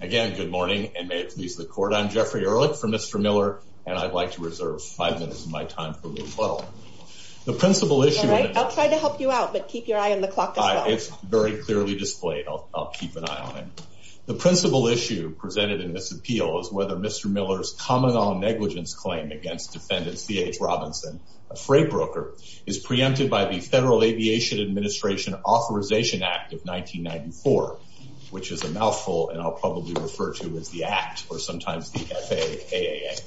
Again, good morning and may it please the court. I'm Jeffrey Ehrlich for Mr. Miller and I'd like to reserve five minutes of my time for room 12. The principal issue... All right, I'll try to help you out, but keep your eye on the clock as well. It's very clearly displayed. I'll keep an eye on it. The principal issue presented in this appeal is whether Mr. Miller's common law negligence claim against defendant C.H. Robinson, a freight broker, is preempted by the Federal Aviation Administration Authorization Act of 1994, which is a mouthful and I'll probably refer to as the Act or sometimes the FAAA.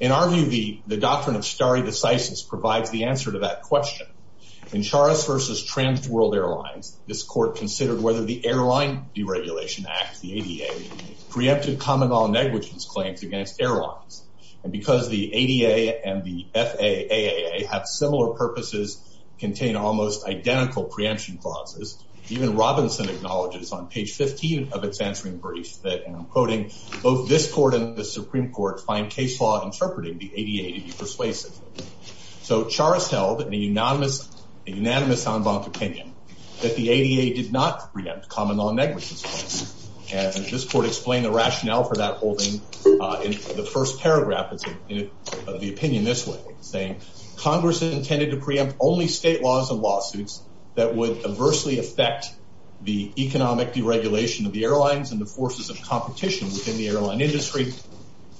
In our view, the doctrine of stare decisis provides the answer to that question. In Charas v. Trans World Airlines, this court considered whether the Airline Deregulation Act, the ADA, preempted common law negligence claims against airlines. And because the ADA and the FAAA have similar purposes, contain almost identical preemption clauses, even Robinson acknowledges on page 15 of its answering brief that, and I'm quoting, both this court and the Supreme Court find case law interpreting the ADA to be persuasive. So Charas held in a unanimous en banc opinion that the ADA did not preempt common law negligence claims. And this court explained the rationale for that holding in the first paragraph of the opinion this way, saying, Congress intended to preempt only state laws and lawsuits that would adversely affect the economic deregulation of the airlines and the forces of competition within the airline industry.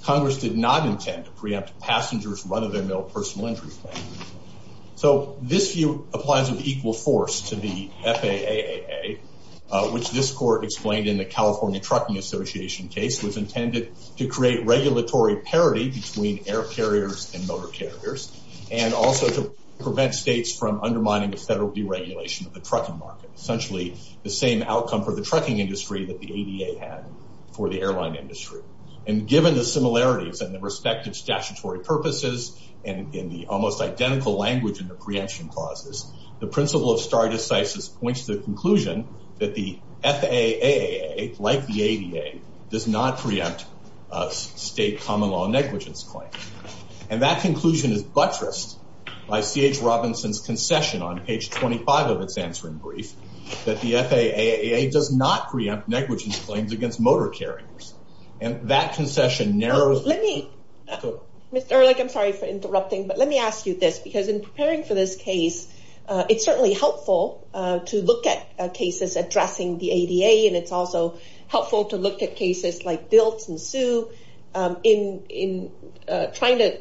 Congress did not intend to preempt passengers' run-of-the-mill personal injury claims. So this view applies with equal force to the FAAA, which this court explained in the California Trucking Association case was intended to create regulatory parity between air carriers and motor carriers, and also to prevent states from undermining the federal deregulation of the trucking market, essentially the same outcome for the trucking industry that the ADA had for the airline industry. And given the similarities and the respective statutory purposes and in the almost identical language in the preemption clauses, the principle of stare decisis points to the conclusion that the FAAA, like the ADA, does not on page 25 of its answering brief, that the FAAA does not preempt negligence claims against motor carriers. And that concession narrows... Let me... Mr. Ehrlich, I'm sorry for interrupting, but let me ask you this, because in preparing for this case, it's certainly helpful to look at cases addressing the ADA, and it's also helpful to look at cases like Dilt and Sue in trying to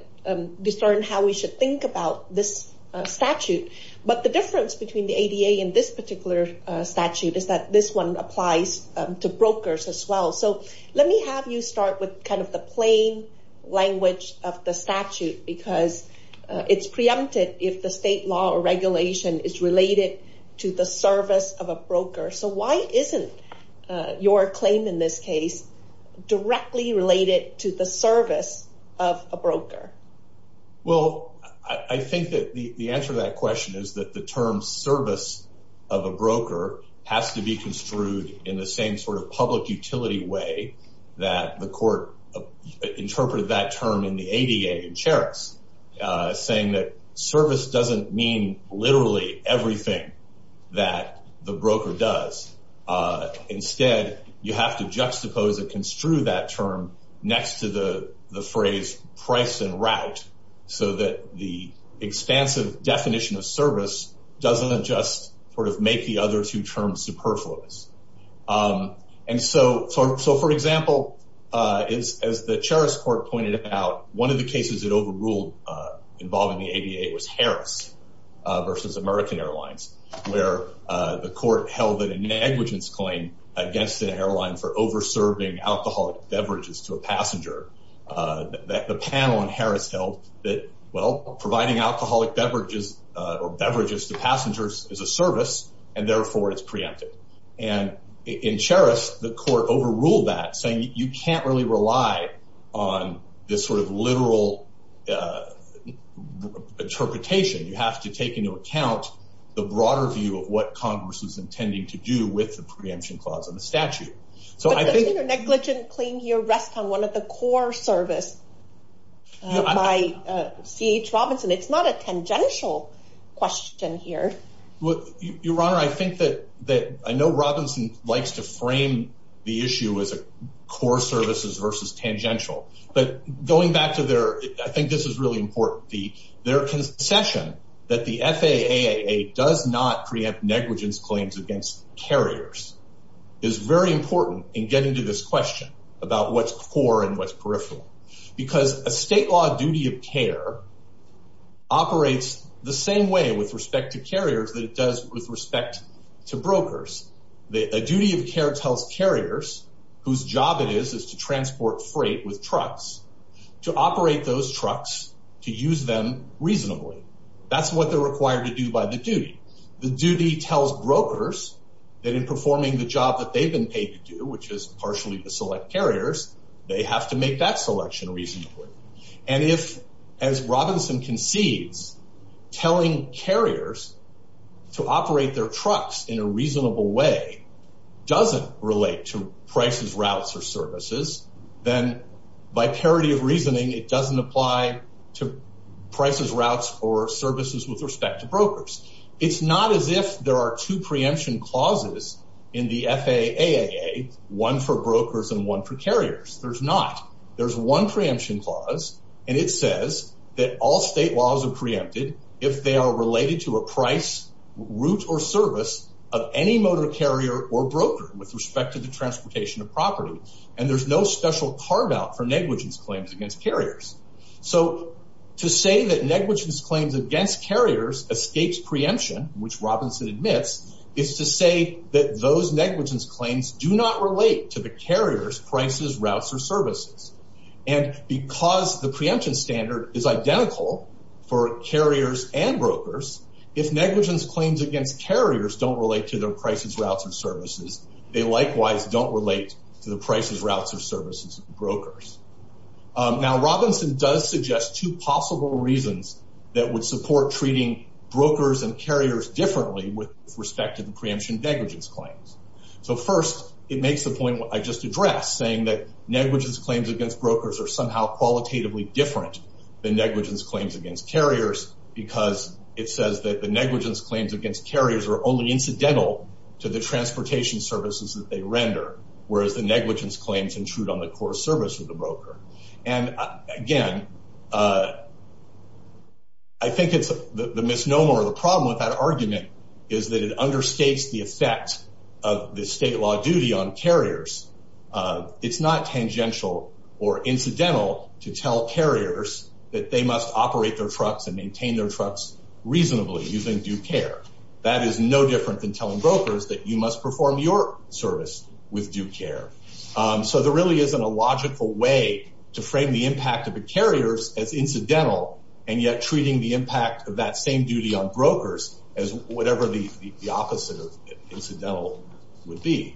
how we should think about this statute. But the difference between the ADA and this particular statute is that this one applies to brokers as well. So let me have you start with kind of the plain language of the statute, because it's preempted if the state law or regulation is related to the service of a broker. So why isn't your claim in this case directly related to the Well, I think that the answer to that question is that the term service of a broker has to be construed in the same sort of public utility way that the court interpreted that term in the ADA in Cheritz, saying that service doesn't mean literally everything that the broker does. Instead, you have to juxtapose and construe that term next to the phrase price and route, so that the expansive definition of service doesn't just sort of make the other two terms superfluous. And so, for example, as the Cheritz court pointed out, one of the cases it overruled involving the ADA was Harris versus American Airlines, where the court held that a negligence claim against an airline for over-serving alcoholic beverages to a passenger that the well, providing alcoholic beverages or beverages to passengers is a service, and therefore it's preempted. And in Cheritz, the court overruled that saying you can't really rely on this sort of literal interpretation, you have to take into account the broader view of what Congress is intending to do with the preemption clause in the statute. So I think your negligence claim here rests on one of the core service by C.H. Robinson. It's not a tangential question here. Your Honor, I think that I know Robinson likes to frame the issue as a core services versus tangential, but going back to their, I think this is really important, their concession that the FAAA does not preempt negligence claims against carriers is very important in getting to this question about what's core and what's peripheral. Because a state law duty of care operates the same way with respect to carriers that it does with respect to brokers. A duty of care tells carriers whose job it is to transport freight with trucks to operate those trucks to use them reasonably. That's what they're required to do by the duty. The duty tells brokers that in partially to select carriers, they have to make that selection reasonably. And if, as Robinson concedes, telling carriers to operate their trucks in a reasonable way doesn't relate to prices, routes, or services, then by parity of reasoning, it doesn't apply to prices, routes, or services with respect to brokers. It's not as if there are two preemption clauses in the FAAA, one for brokers and one for carriers. There's not. There's one preemption clause, and it says that all state laws are preempted if they are related to a price, route, or service of any motor carrier or broker with respect to the transportation of property. And there's no special carve-out for negligence claims against carriers escapes preemption, which Robinson admits, is to say that those negligence claims do not relate to the carrier's prices, routes, or services. And because the preemption standard is identical for carriers and brokers, if negligence claims against carriers don't relate to their prices, routes, or services, they likewise don't relate to the prices, routes, or services brokers. Now, Robinson does suggest two possible reasons that would support treating brokers and carriers differently with respect to the preemption negligence claims. So first, it makes the point what I just addressed, saying that negligence claims against brokers are somehow qualitatively different than negligence claims against carriers because it says that the negligence claims against carriers are only incidental to the transportation services that they render, whereas the negligence claims intrude on the core service of the broker. And again, I think it's the misnomer or the problem with that argument is that it understates the effect of the state law duty on carriers. It's not tangential or incidental to tell carriers that they must operate their trucks and maintain their trucks reasonably using due care. That is no different than telling brokers that you must perform your service with due care. So there really isn't a logical way to frame the impact of the carriers as incidental and yet treating the impact of that same duty on brokers as whatever the opposite of incidental would be.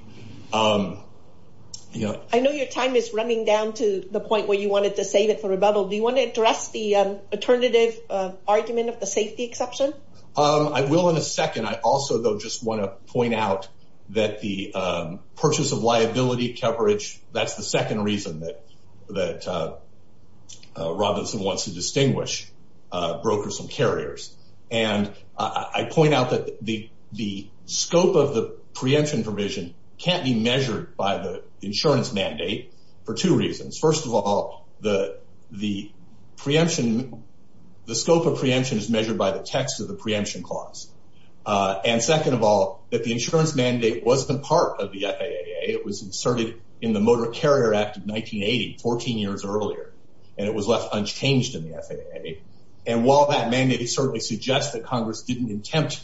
I know your time is running down to the point where you wanted to save it for rebuttal. Do you want to address the alternative argument of the safety exception? I will in a second. I also, though, just want to point out that the purchase of liability coverage, that's the second reason that Robinson wants to distinguish brokers from carriers. And I point out that the scope of the preemption provision can't be measured by the insurance of the preemption clause. And second of all, that the insurance mandate wasn't part of the FAA. It was inserted in the Motor Carrier Act of 1980, 14 years earlier, and it was left unchanged in the FAA. And while that mandate certainly suggests that Congress didn't intend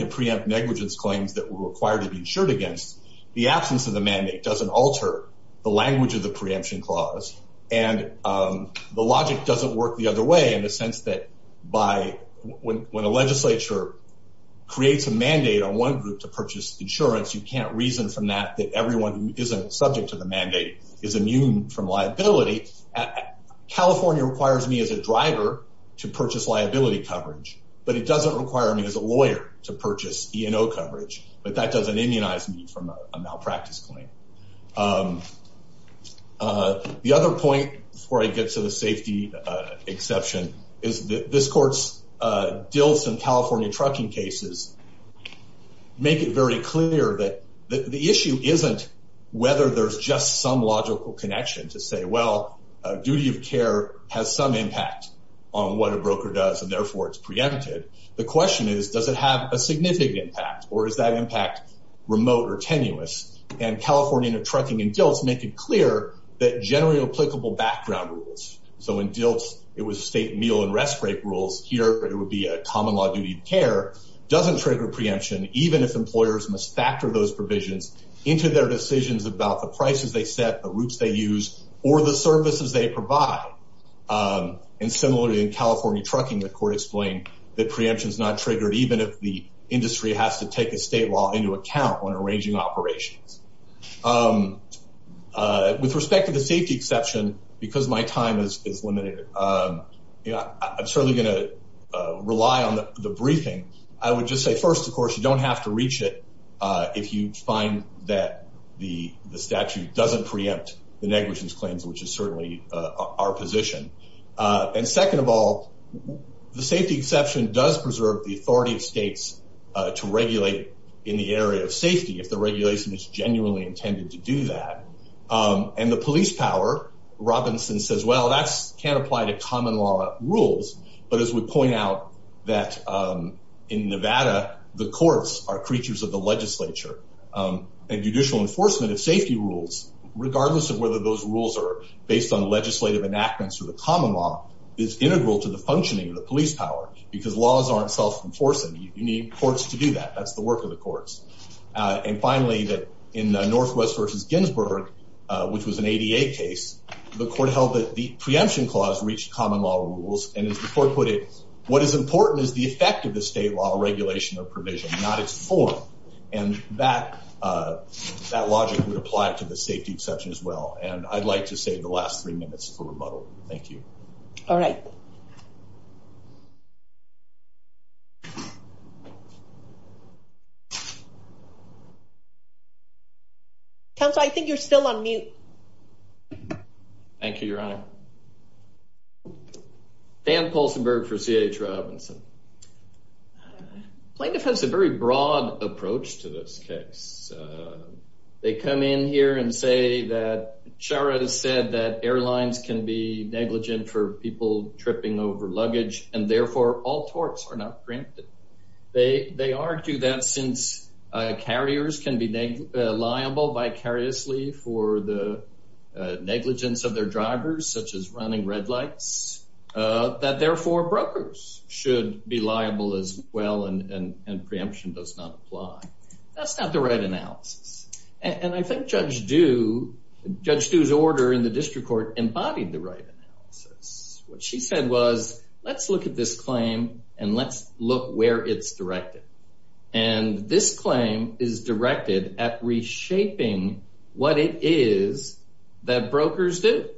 to preempt negligence claims that were required to be insured against, the absence of the mandate doesn't alter the language of the preemption clause. And the logic doesn't work the other way in the sense that by when a legislature creates a mandate on one group to purchase insurance, you can't reason from that that everyone who isn't subject to the mandate is immune from liability. California requires me as a driver to purchase liability coverage, but it doesn't require me as a lawyer to purchase E&O coverage. But that doesn't immunize me from a malpractice claim. The other point, before I get to the safety exception, is that this court's deals in California trucking cases make it very clear that the issue isn't whether there's just some logical connection to say, well, duty of care has some impact on what a broker does and therefore it's preempted. The question is, does it have a significant impact or is that impact remote or tenuous? And California trucking and DILTs make it clear that generally applicable background rules. So in DILTs, it was state meal and rest break rules. Here, it would be a common law duty of care, doesn't trigger preemption, even if employers must factor those provisions into their decisions about the prices they set, the routes they use, or the services they provide. And similarly in California trucking, the court explained that preemption is not triggered, even if the industry has to take a state law into account when arranging operations. With respect to the safety exception, because my time is limited, I'm certainly going to rely on the briefing. I would just say first, of course, you don't have to reach it if you find that the statute doesn't preempt the negligence claims, which is certainly our position. And second of all, the safety exception does preserve the authority of states to regulate in the area of safety if the regulation is genuinely intended to do that. And the police power, Robinson says, well, that can't apply to common law rules. But as we point out that in Nevada, the courts are creatures of the legislature and judicial enforcement of safety rules. Regardless of whether those rules are based on legislative enactments or the common law, it's integral to the functioning of the police power, because laws aren't self-enforcing. You need courts to do that. That's the work of the courts. And finally, that in Northwest versus Ginsburg, which was an ADA case, the court held that the preemption clause reached common law rules. And as the court put it, what is important is the effect of the state law regulation of the safety exception as well. And I'd like to save the last three minutes for rebuttal. Thank you. All right. Counselor, I think you're still on mute. Thank you, Your Honor. Dan Polsenberg for C.A. Robinson. Plaintiff has a very broad approach to this case. They come in here and say that Chara has said that airlines can be negligent for people tripping over luggage, and therefore all torts are not preempted. They argue that since carriers can be liable vicariously for the negligence of their drivers, such as running red lights, that therefore brokers should be liable as well, and preemption does not apply. That's not the right analysis. And I think Judge Due, Judge Due's order in the district court embodied the right analysis. What she said was, let's look at this claim and let's look where it's directed. And this claim is directed at reshaping what it is that brokers do,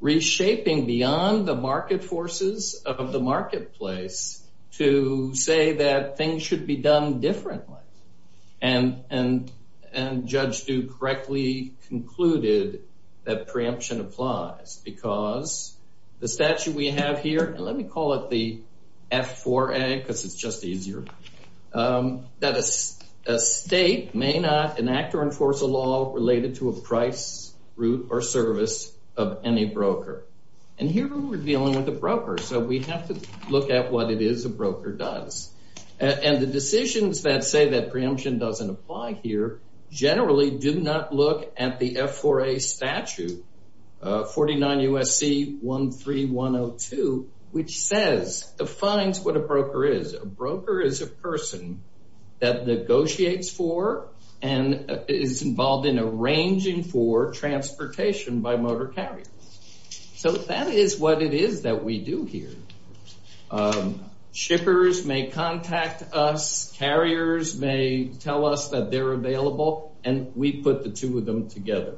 reshaping beyond the market forces of the marketplace to say that things should be done differently. And Judge Due correctly concluded that preemption applies because the statute we have here, and let me call it the F4A because it's just easier, that a state may not enact or enforce a related to a price, route, or service of any broker. And here we're dealing with a broker, so we have to look at what it is a broker does. And the decisions that say that preemption doesn't apply here generally do not look at the F4A statute, 49 U.S.C. 13102, which says, defines what a broker is. A broker is a person that negotiates for and is involved in arranging for transportation by motor carrier. So that is what it is that we do here. Shippers may contact us, carriers may tell us that they're available, and we put the two of them together.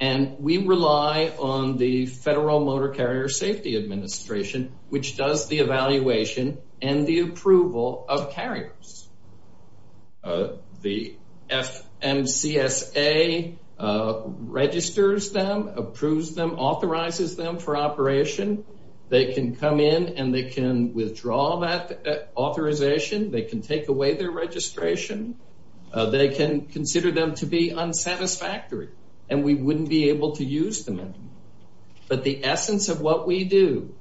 And we rely on the Federal Motor Carrier Safety Administration, which does the evaluation and the approval of carriers. The FMCSA registers them, approves them, authorizes them for operation. They can come in and they can withdraw that authorization. They can take away their registration. They can consider them to be unsatisfactory, and we wouldn't be able to use them. But the essence of what we do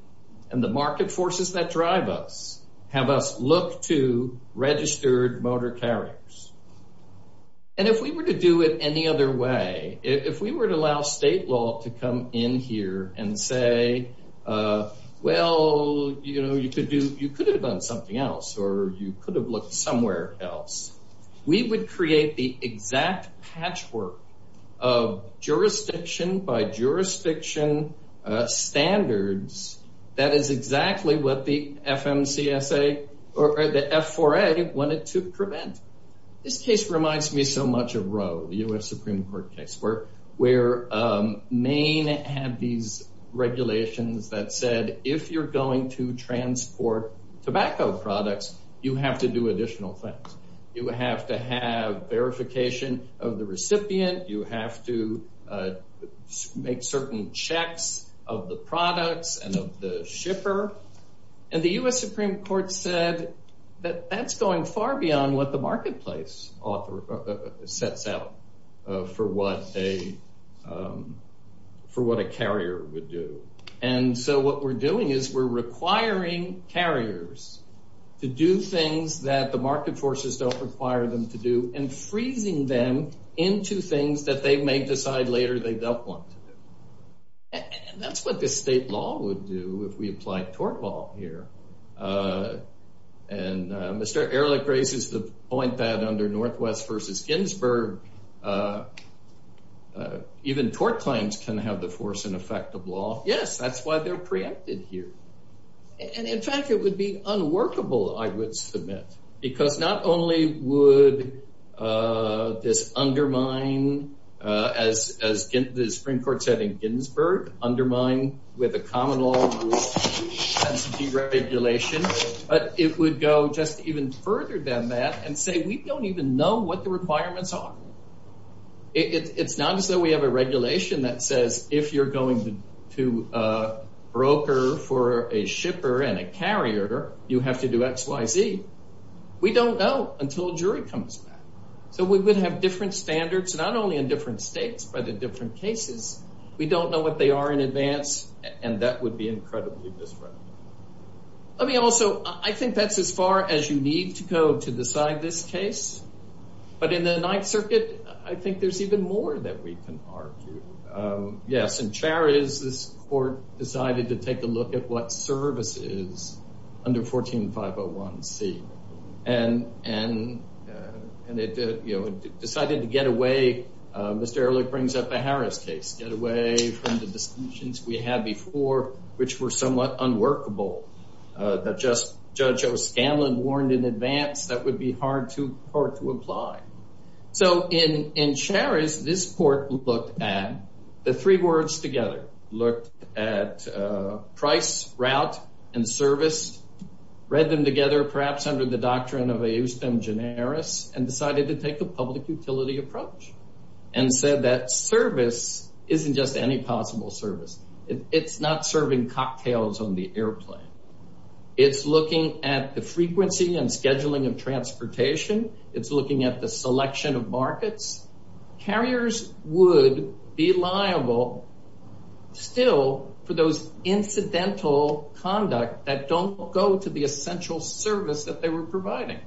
and the market forces that drive us have us look to registered motor carriers. And if we were to do it any other way, if we were to allow state law to come in here and say, well, you could have done something else or you could have looked somewhere else, we would create the exact patchwork of jurisdiction by jurisdiction standards that is exactly what the FMCSA or the F4A wanted to prevent. This case reminds me so much of Roe, the U.S. Supreme Court case, where Maine had these regulations that said if you're going to transport tobacco products, you have to do additional things. You have to have verification of the recipient. You have to make certain checks of the products and of the shipper. And the U.S. Supreme Court said that that's going far beyond what the marketplace author sets out for what a carrier would do. And so what we're doing is we're requiring carriers to do things that the market forces don't require them to do and freezing them into things that they may decide later they don't want to do. And that's what the state law would do if we applied tort law here. And Mr. Ehrlich raises the point that under Northwest versus Ginsburg, even tort claims can have the force and effect of law. Yes, that's why they're preempted here. And in fact, it would be unworkable, I would submit, because not only would this undermine, as the Supreme Court said in Ginsburg, undermine with a common law and deregulation, but it would go just even further than that and say we don't even know what the requirements are. It's not as though we have a regulation that says if you're going to So we would have different standards, not only in different states, but in different cases. We don't know what they are in advance, and that would be incredibly disruptive. I mean, also, I think that's as far as you need to go to decide this case. But in the Ninth Circuit, I think there's even more that we can argue. Yes, in Chariz, this decided to get away, Mr. Ehrlich brings up the Harris case, get away from the decisions we had before, which were somewhat unworkable. Judge O'Scanlan warned in advance that would be hard to apply. So in Chariz, this court looked at the three words together, looked at price, route, and service, read them together, perhaps under the doctrine of a use them generis, and decided to take a public utility approach and said that service isn't just any possible service. It's not serving cocktails on the airplane. It's looking at the frequency and scheduling of transportation. It's looking at the selection of markets. Carriers would be liable still for those incidental conduct that don't go to the essential service that they were providing.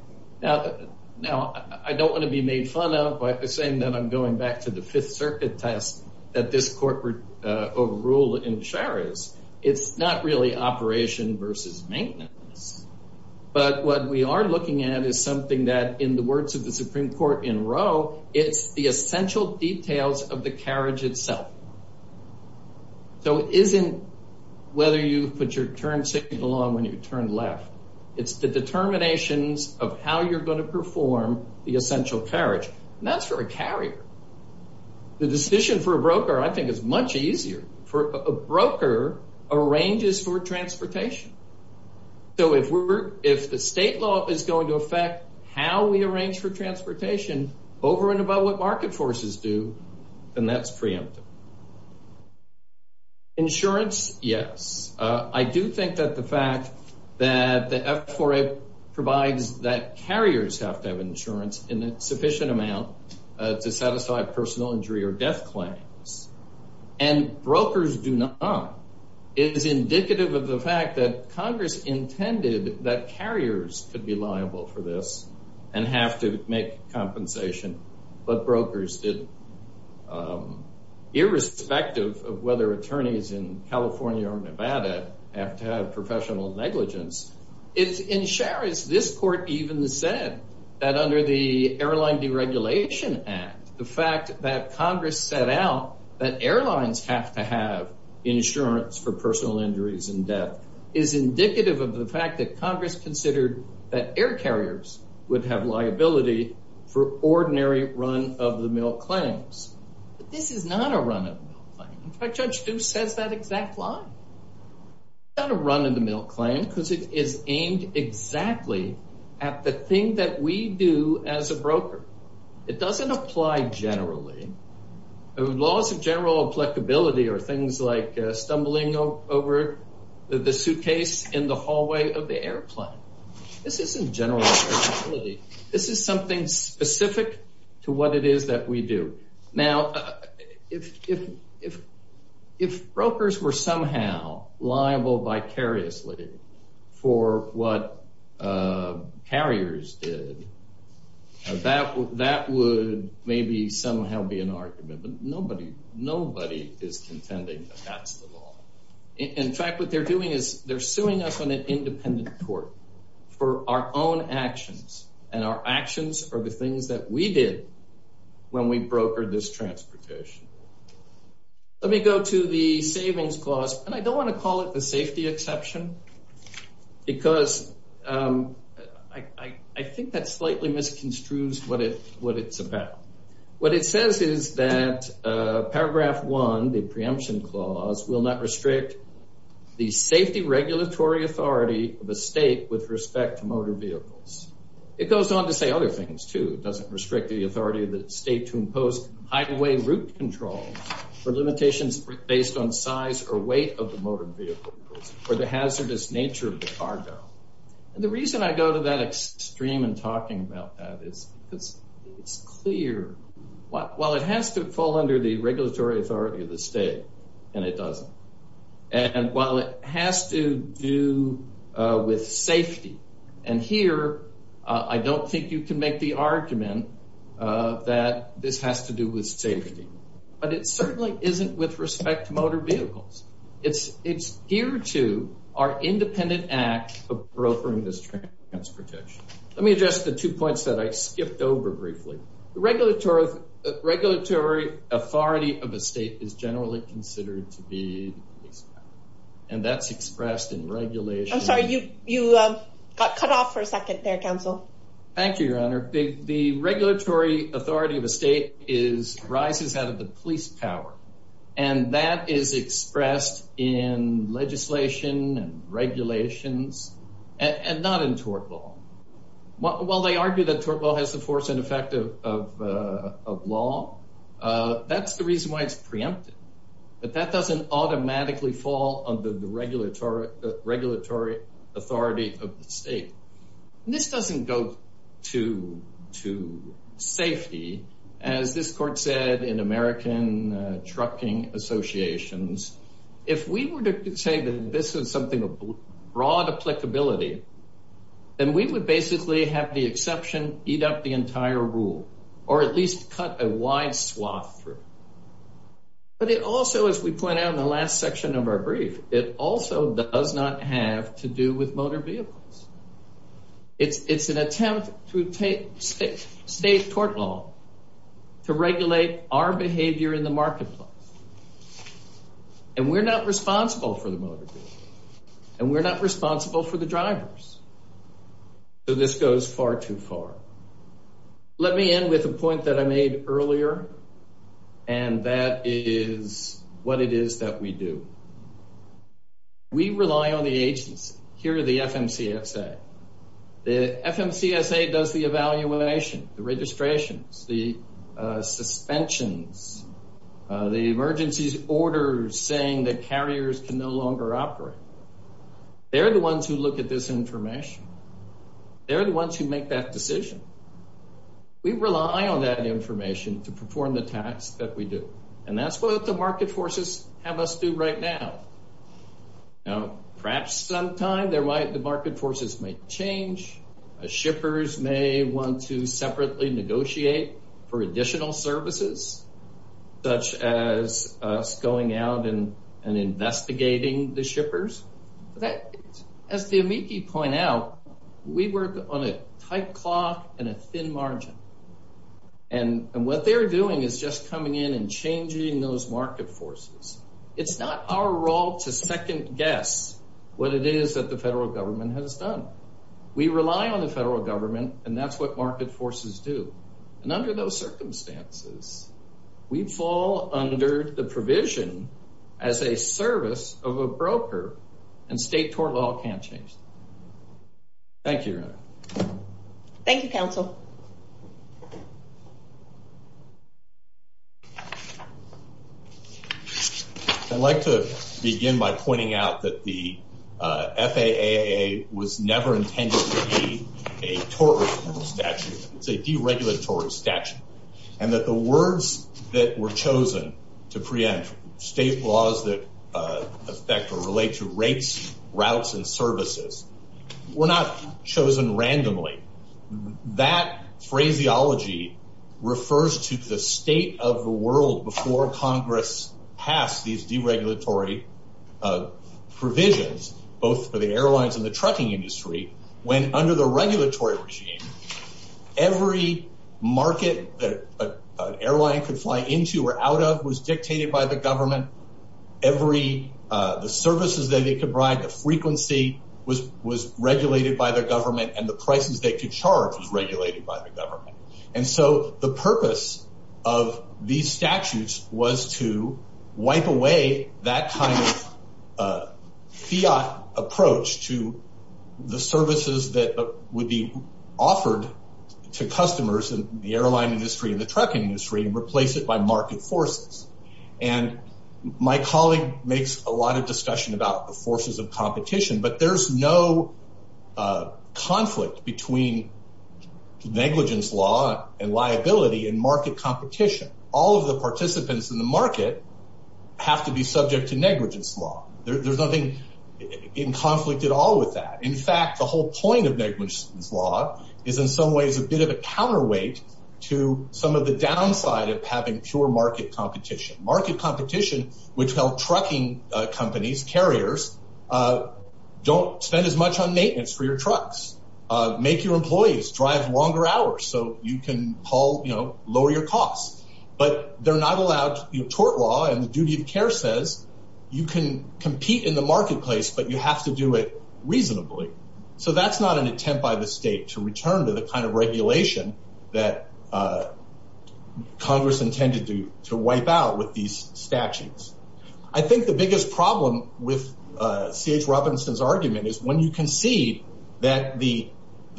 Now, I don't want to be made fun of by saying that I'm going back to the Fifth Circuit test that this court ruled in Chariz. It's not really operation versus maintenance. But what we are looking at is something that, in the words of the Supreme Court in Roe, it's the essential details of the carriage itself. So it isn't whether you put your turn signal on when you turn left. It's the determinations of how you're going to perform the essential carriage. That's for a carrier. The decision for a broker, I think, is much easier. A broker arranges for transportation. So if the state law is going to affect how we arrange for transportation, over and above what market forces do, then that's preemptive. Insurance, yes. I do think that the fact that the F4A provides that carriers have to have insurance in a sufficient amount to satisfy personal injury or death claims, and brokers do not, is indicative of the fact that Congress intended that carriers could be liable for this and have to make compensation. But brokers didn't. Irrespective of whether attorneys in California or Nevada have to have professional negligence. In Chariz, this court even said that under the Airline Deregulation Act, the fact that Congress set out that airlines have to have insurance for personal injuries and death is indicative of the fact that Congress considered that air carriers would have liability for ordinary run-of-the-mill claims. But this is not a run-of-the-mill claim. In fact, Judge Deuce says that exact line. It's not a run-of-the-mill claim because it is aimed exactly at the thing that we do as a broker. It doesn't apply generally. Laws of general applicability are things like the suitcase in the hallway of the airplane. This isn't general applicability. This is something specific to what it is that we do. Now, if brokers were somehow liable vicariously for what carriers did, that would maybe somehow be an argument. But nobody is contending that that's the law. In fact, what they're doing is they're suing us on an independent court for our own actions, and our actions are the things that we did when we brokered this transportation. Let me go to the Savings Clause, and I don't want to call it the safety exception because I think that slightly misconstrues what it's about. What it says is that Paragraph 1, the Preemption Clause, will not restrict the safety regulatory authority of a state with respect to motor vehicles. It goes on to say other things, too. It doesn't restrict the authority of the state to impose highway route controls for limitations based on size or weight of the motor vehicles or the hazardous nature of the cargo. And the reason I go to that extreme in talking about that is because it's clear. While it has to fall under the regulatory authority of the state, and it doesn't, and while it has to do with safety, and here I don't think you can make the argument that this has to do with safety, but it certainly isn't with respect to motor vehicles. It's here to our independent act of brokering this transportation. Let me address the two points that I skipped over briefly. The regulatory authority of a state is generally considered to be the police power, and that's expressed in regulation. I'm sorry, you got cut off for a second there, counsel. Thank you, Your Honor. The regulatory authority of a state rises out of the police power, and that is expressed in legislation and regulations, and not in tort law. While they argue that tort law has the force and effect of law, that's the reason why it's preempted, but that doesn't automatically fall under the regulatory authority of the state. This doesn't go to safety, as this court said in American Trucking Associations. If we were to say that this is something of broad applicability, then we would basically have the exception eat up the entire rule, or at least cut a wide swath through. But it also, as we point out in the last section of our brief, it also does not have to do with motor vehicles. It's an attempt through state tort law to regulate our behavior in the marketplace. And we're not responsible for the motor vehicle, and we're not responsible for the drivers. So this goes far too far. Let me end with a point that I made earlier, and that is what it is that we do. We rely on the agency. Here are the FMCSA. The FMCSA does the evaluation, the registrations, the suspensions, the emergency orders saying that carriers can no longer operate. They're the ones who look at this information. They're the ones who make that decision. We rely on that information to perform the task that we do, and that's what the market forces have us do right now. Now, perhaps sometime the market forces may change, shippers may want to separately negotiate for additional services, such as us going out and investigating the shippers. As the amici point out, we work on a tight clock and a thin margin. And what they're doing is just coming in and changing those market forces. It's not our role to second guess what it is that the federal government has done. We rely on the federal government, and that's what market forces do. And under those circumstances, we fall under the provision as a service of a broker, and state tort law can't change that. Thank you. Thank you, counsel. I'd like to begin by pointing out that the FAAA was never intended to be a tort law statute. It's a deregulatory statute, and that the words that were chosen to preempt state laws that affect or relate to rates, routes, and services were not chosen randomly. That phraseology refers to the state of the world before Congress passed these deregulatory provisions, both for the airlines and the trucking industry, when under the regulatory regime, every market that an airline could fly into or out of was dictated by the government. Every, the services that they could provide, the frequency was regulated by the government, and the prices they could charge was regulated by the government. And so the purpose of these statutes was to wipe away that kind of fiat approach to the services that would be offered to customers in the airline industry and the trucking industry and replace it by market forces. And my colleague makes a lot of discussion about the forces of competition, but there's no conflict between negligence law and liability and market competition. All of the participants in the market have to be subject to negligence law. There's nothing in conflict at all with that. In fact, the whole point of negligence law is in some ways a bit of a counterweight to some of the market competition, which held trucking companies, carriers, don't spend as much on maintenance for your trucks. Make your employees drive longer hours so you can lower your costs. But they're not allowed, tort law and the duty of care says you can compete in the marketplace, but you have to do it reasonably. So that's not an attempt by the state to return to the kind of regulation that Congress intended to wipe out with these statutes. I think the biggest problem with CH Robinson's argument is when you can see that the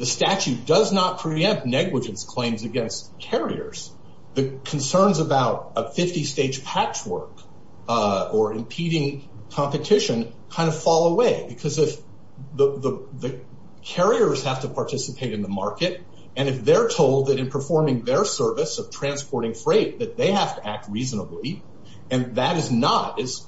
statute does not preempt negligence claims against carriers, the concerns about a 50 stage patchwork or impeding competition kind of fall away. Because if the carriers have to participate in the market, and if they're told that in performing their service of transporting freight, that they have to act reasonably, and that is not as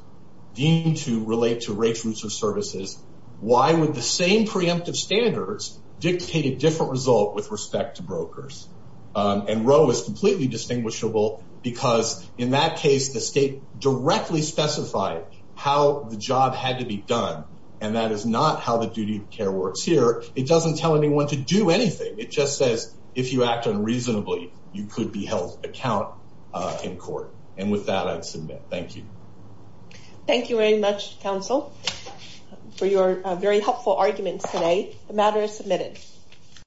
deemed to relate to rates, routes, or services, why would the same preemptive standards dictate a different result with respect to brokers? And Roe is completely distinguishable because in that case, the state directly specified how the job had to be done. And that is not how the duty of care works here. It doesn't tell anyone to do anything. It just says, if you act unreasonably, you could be held to account in court. And with that, I'd submit. Thank you. Thank you very much, counsel, for your very helpful arguments today. The matter is submitted.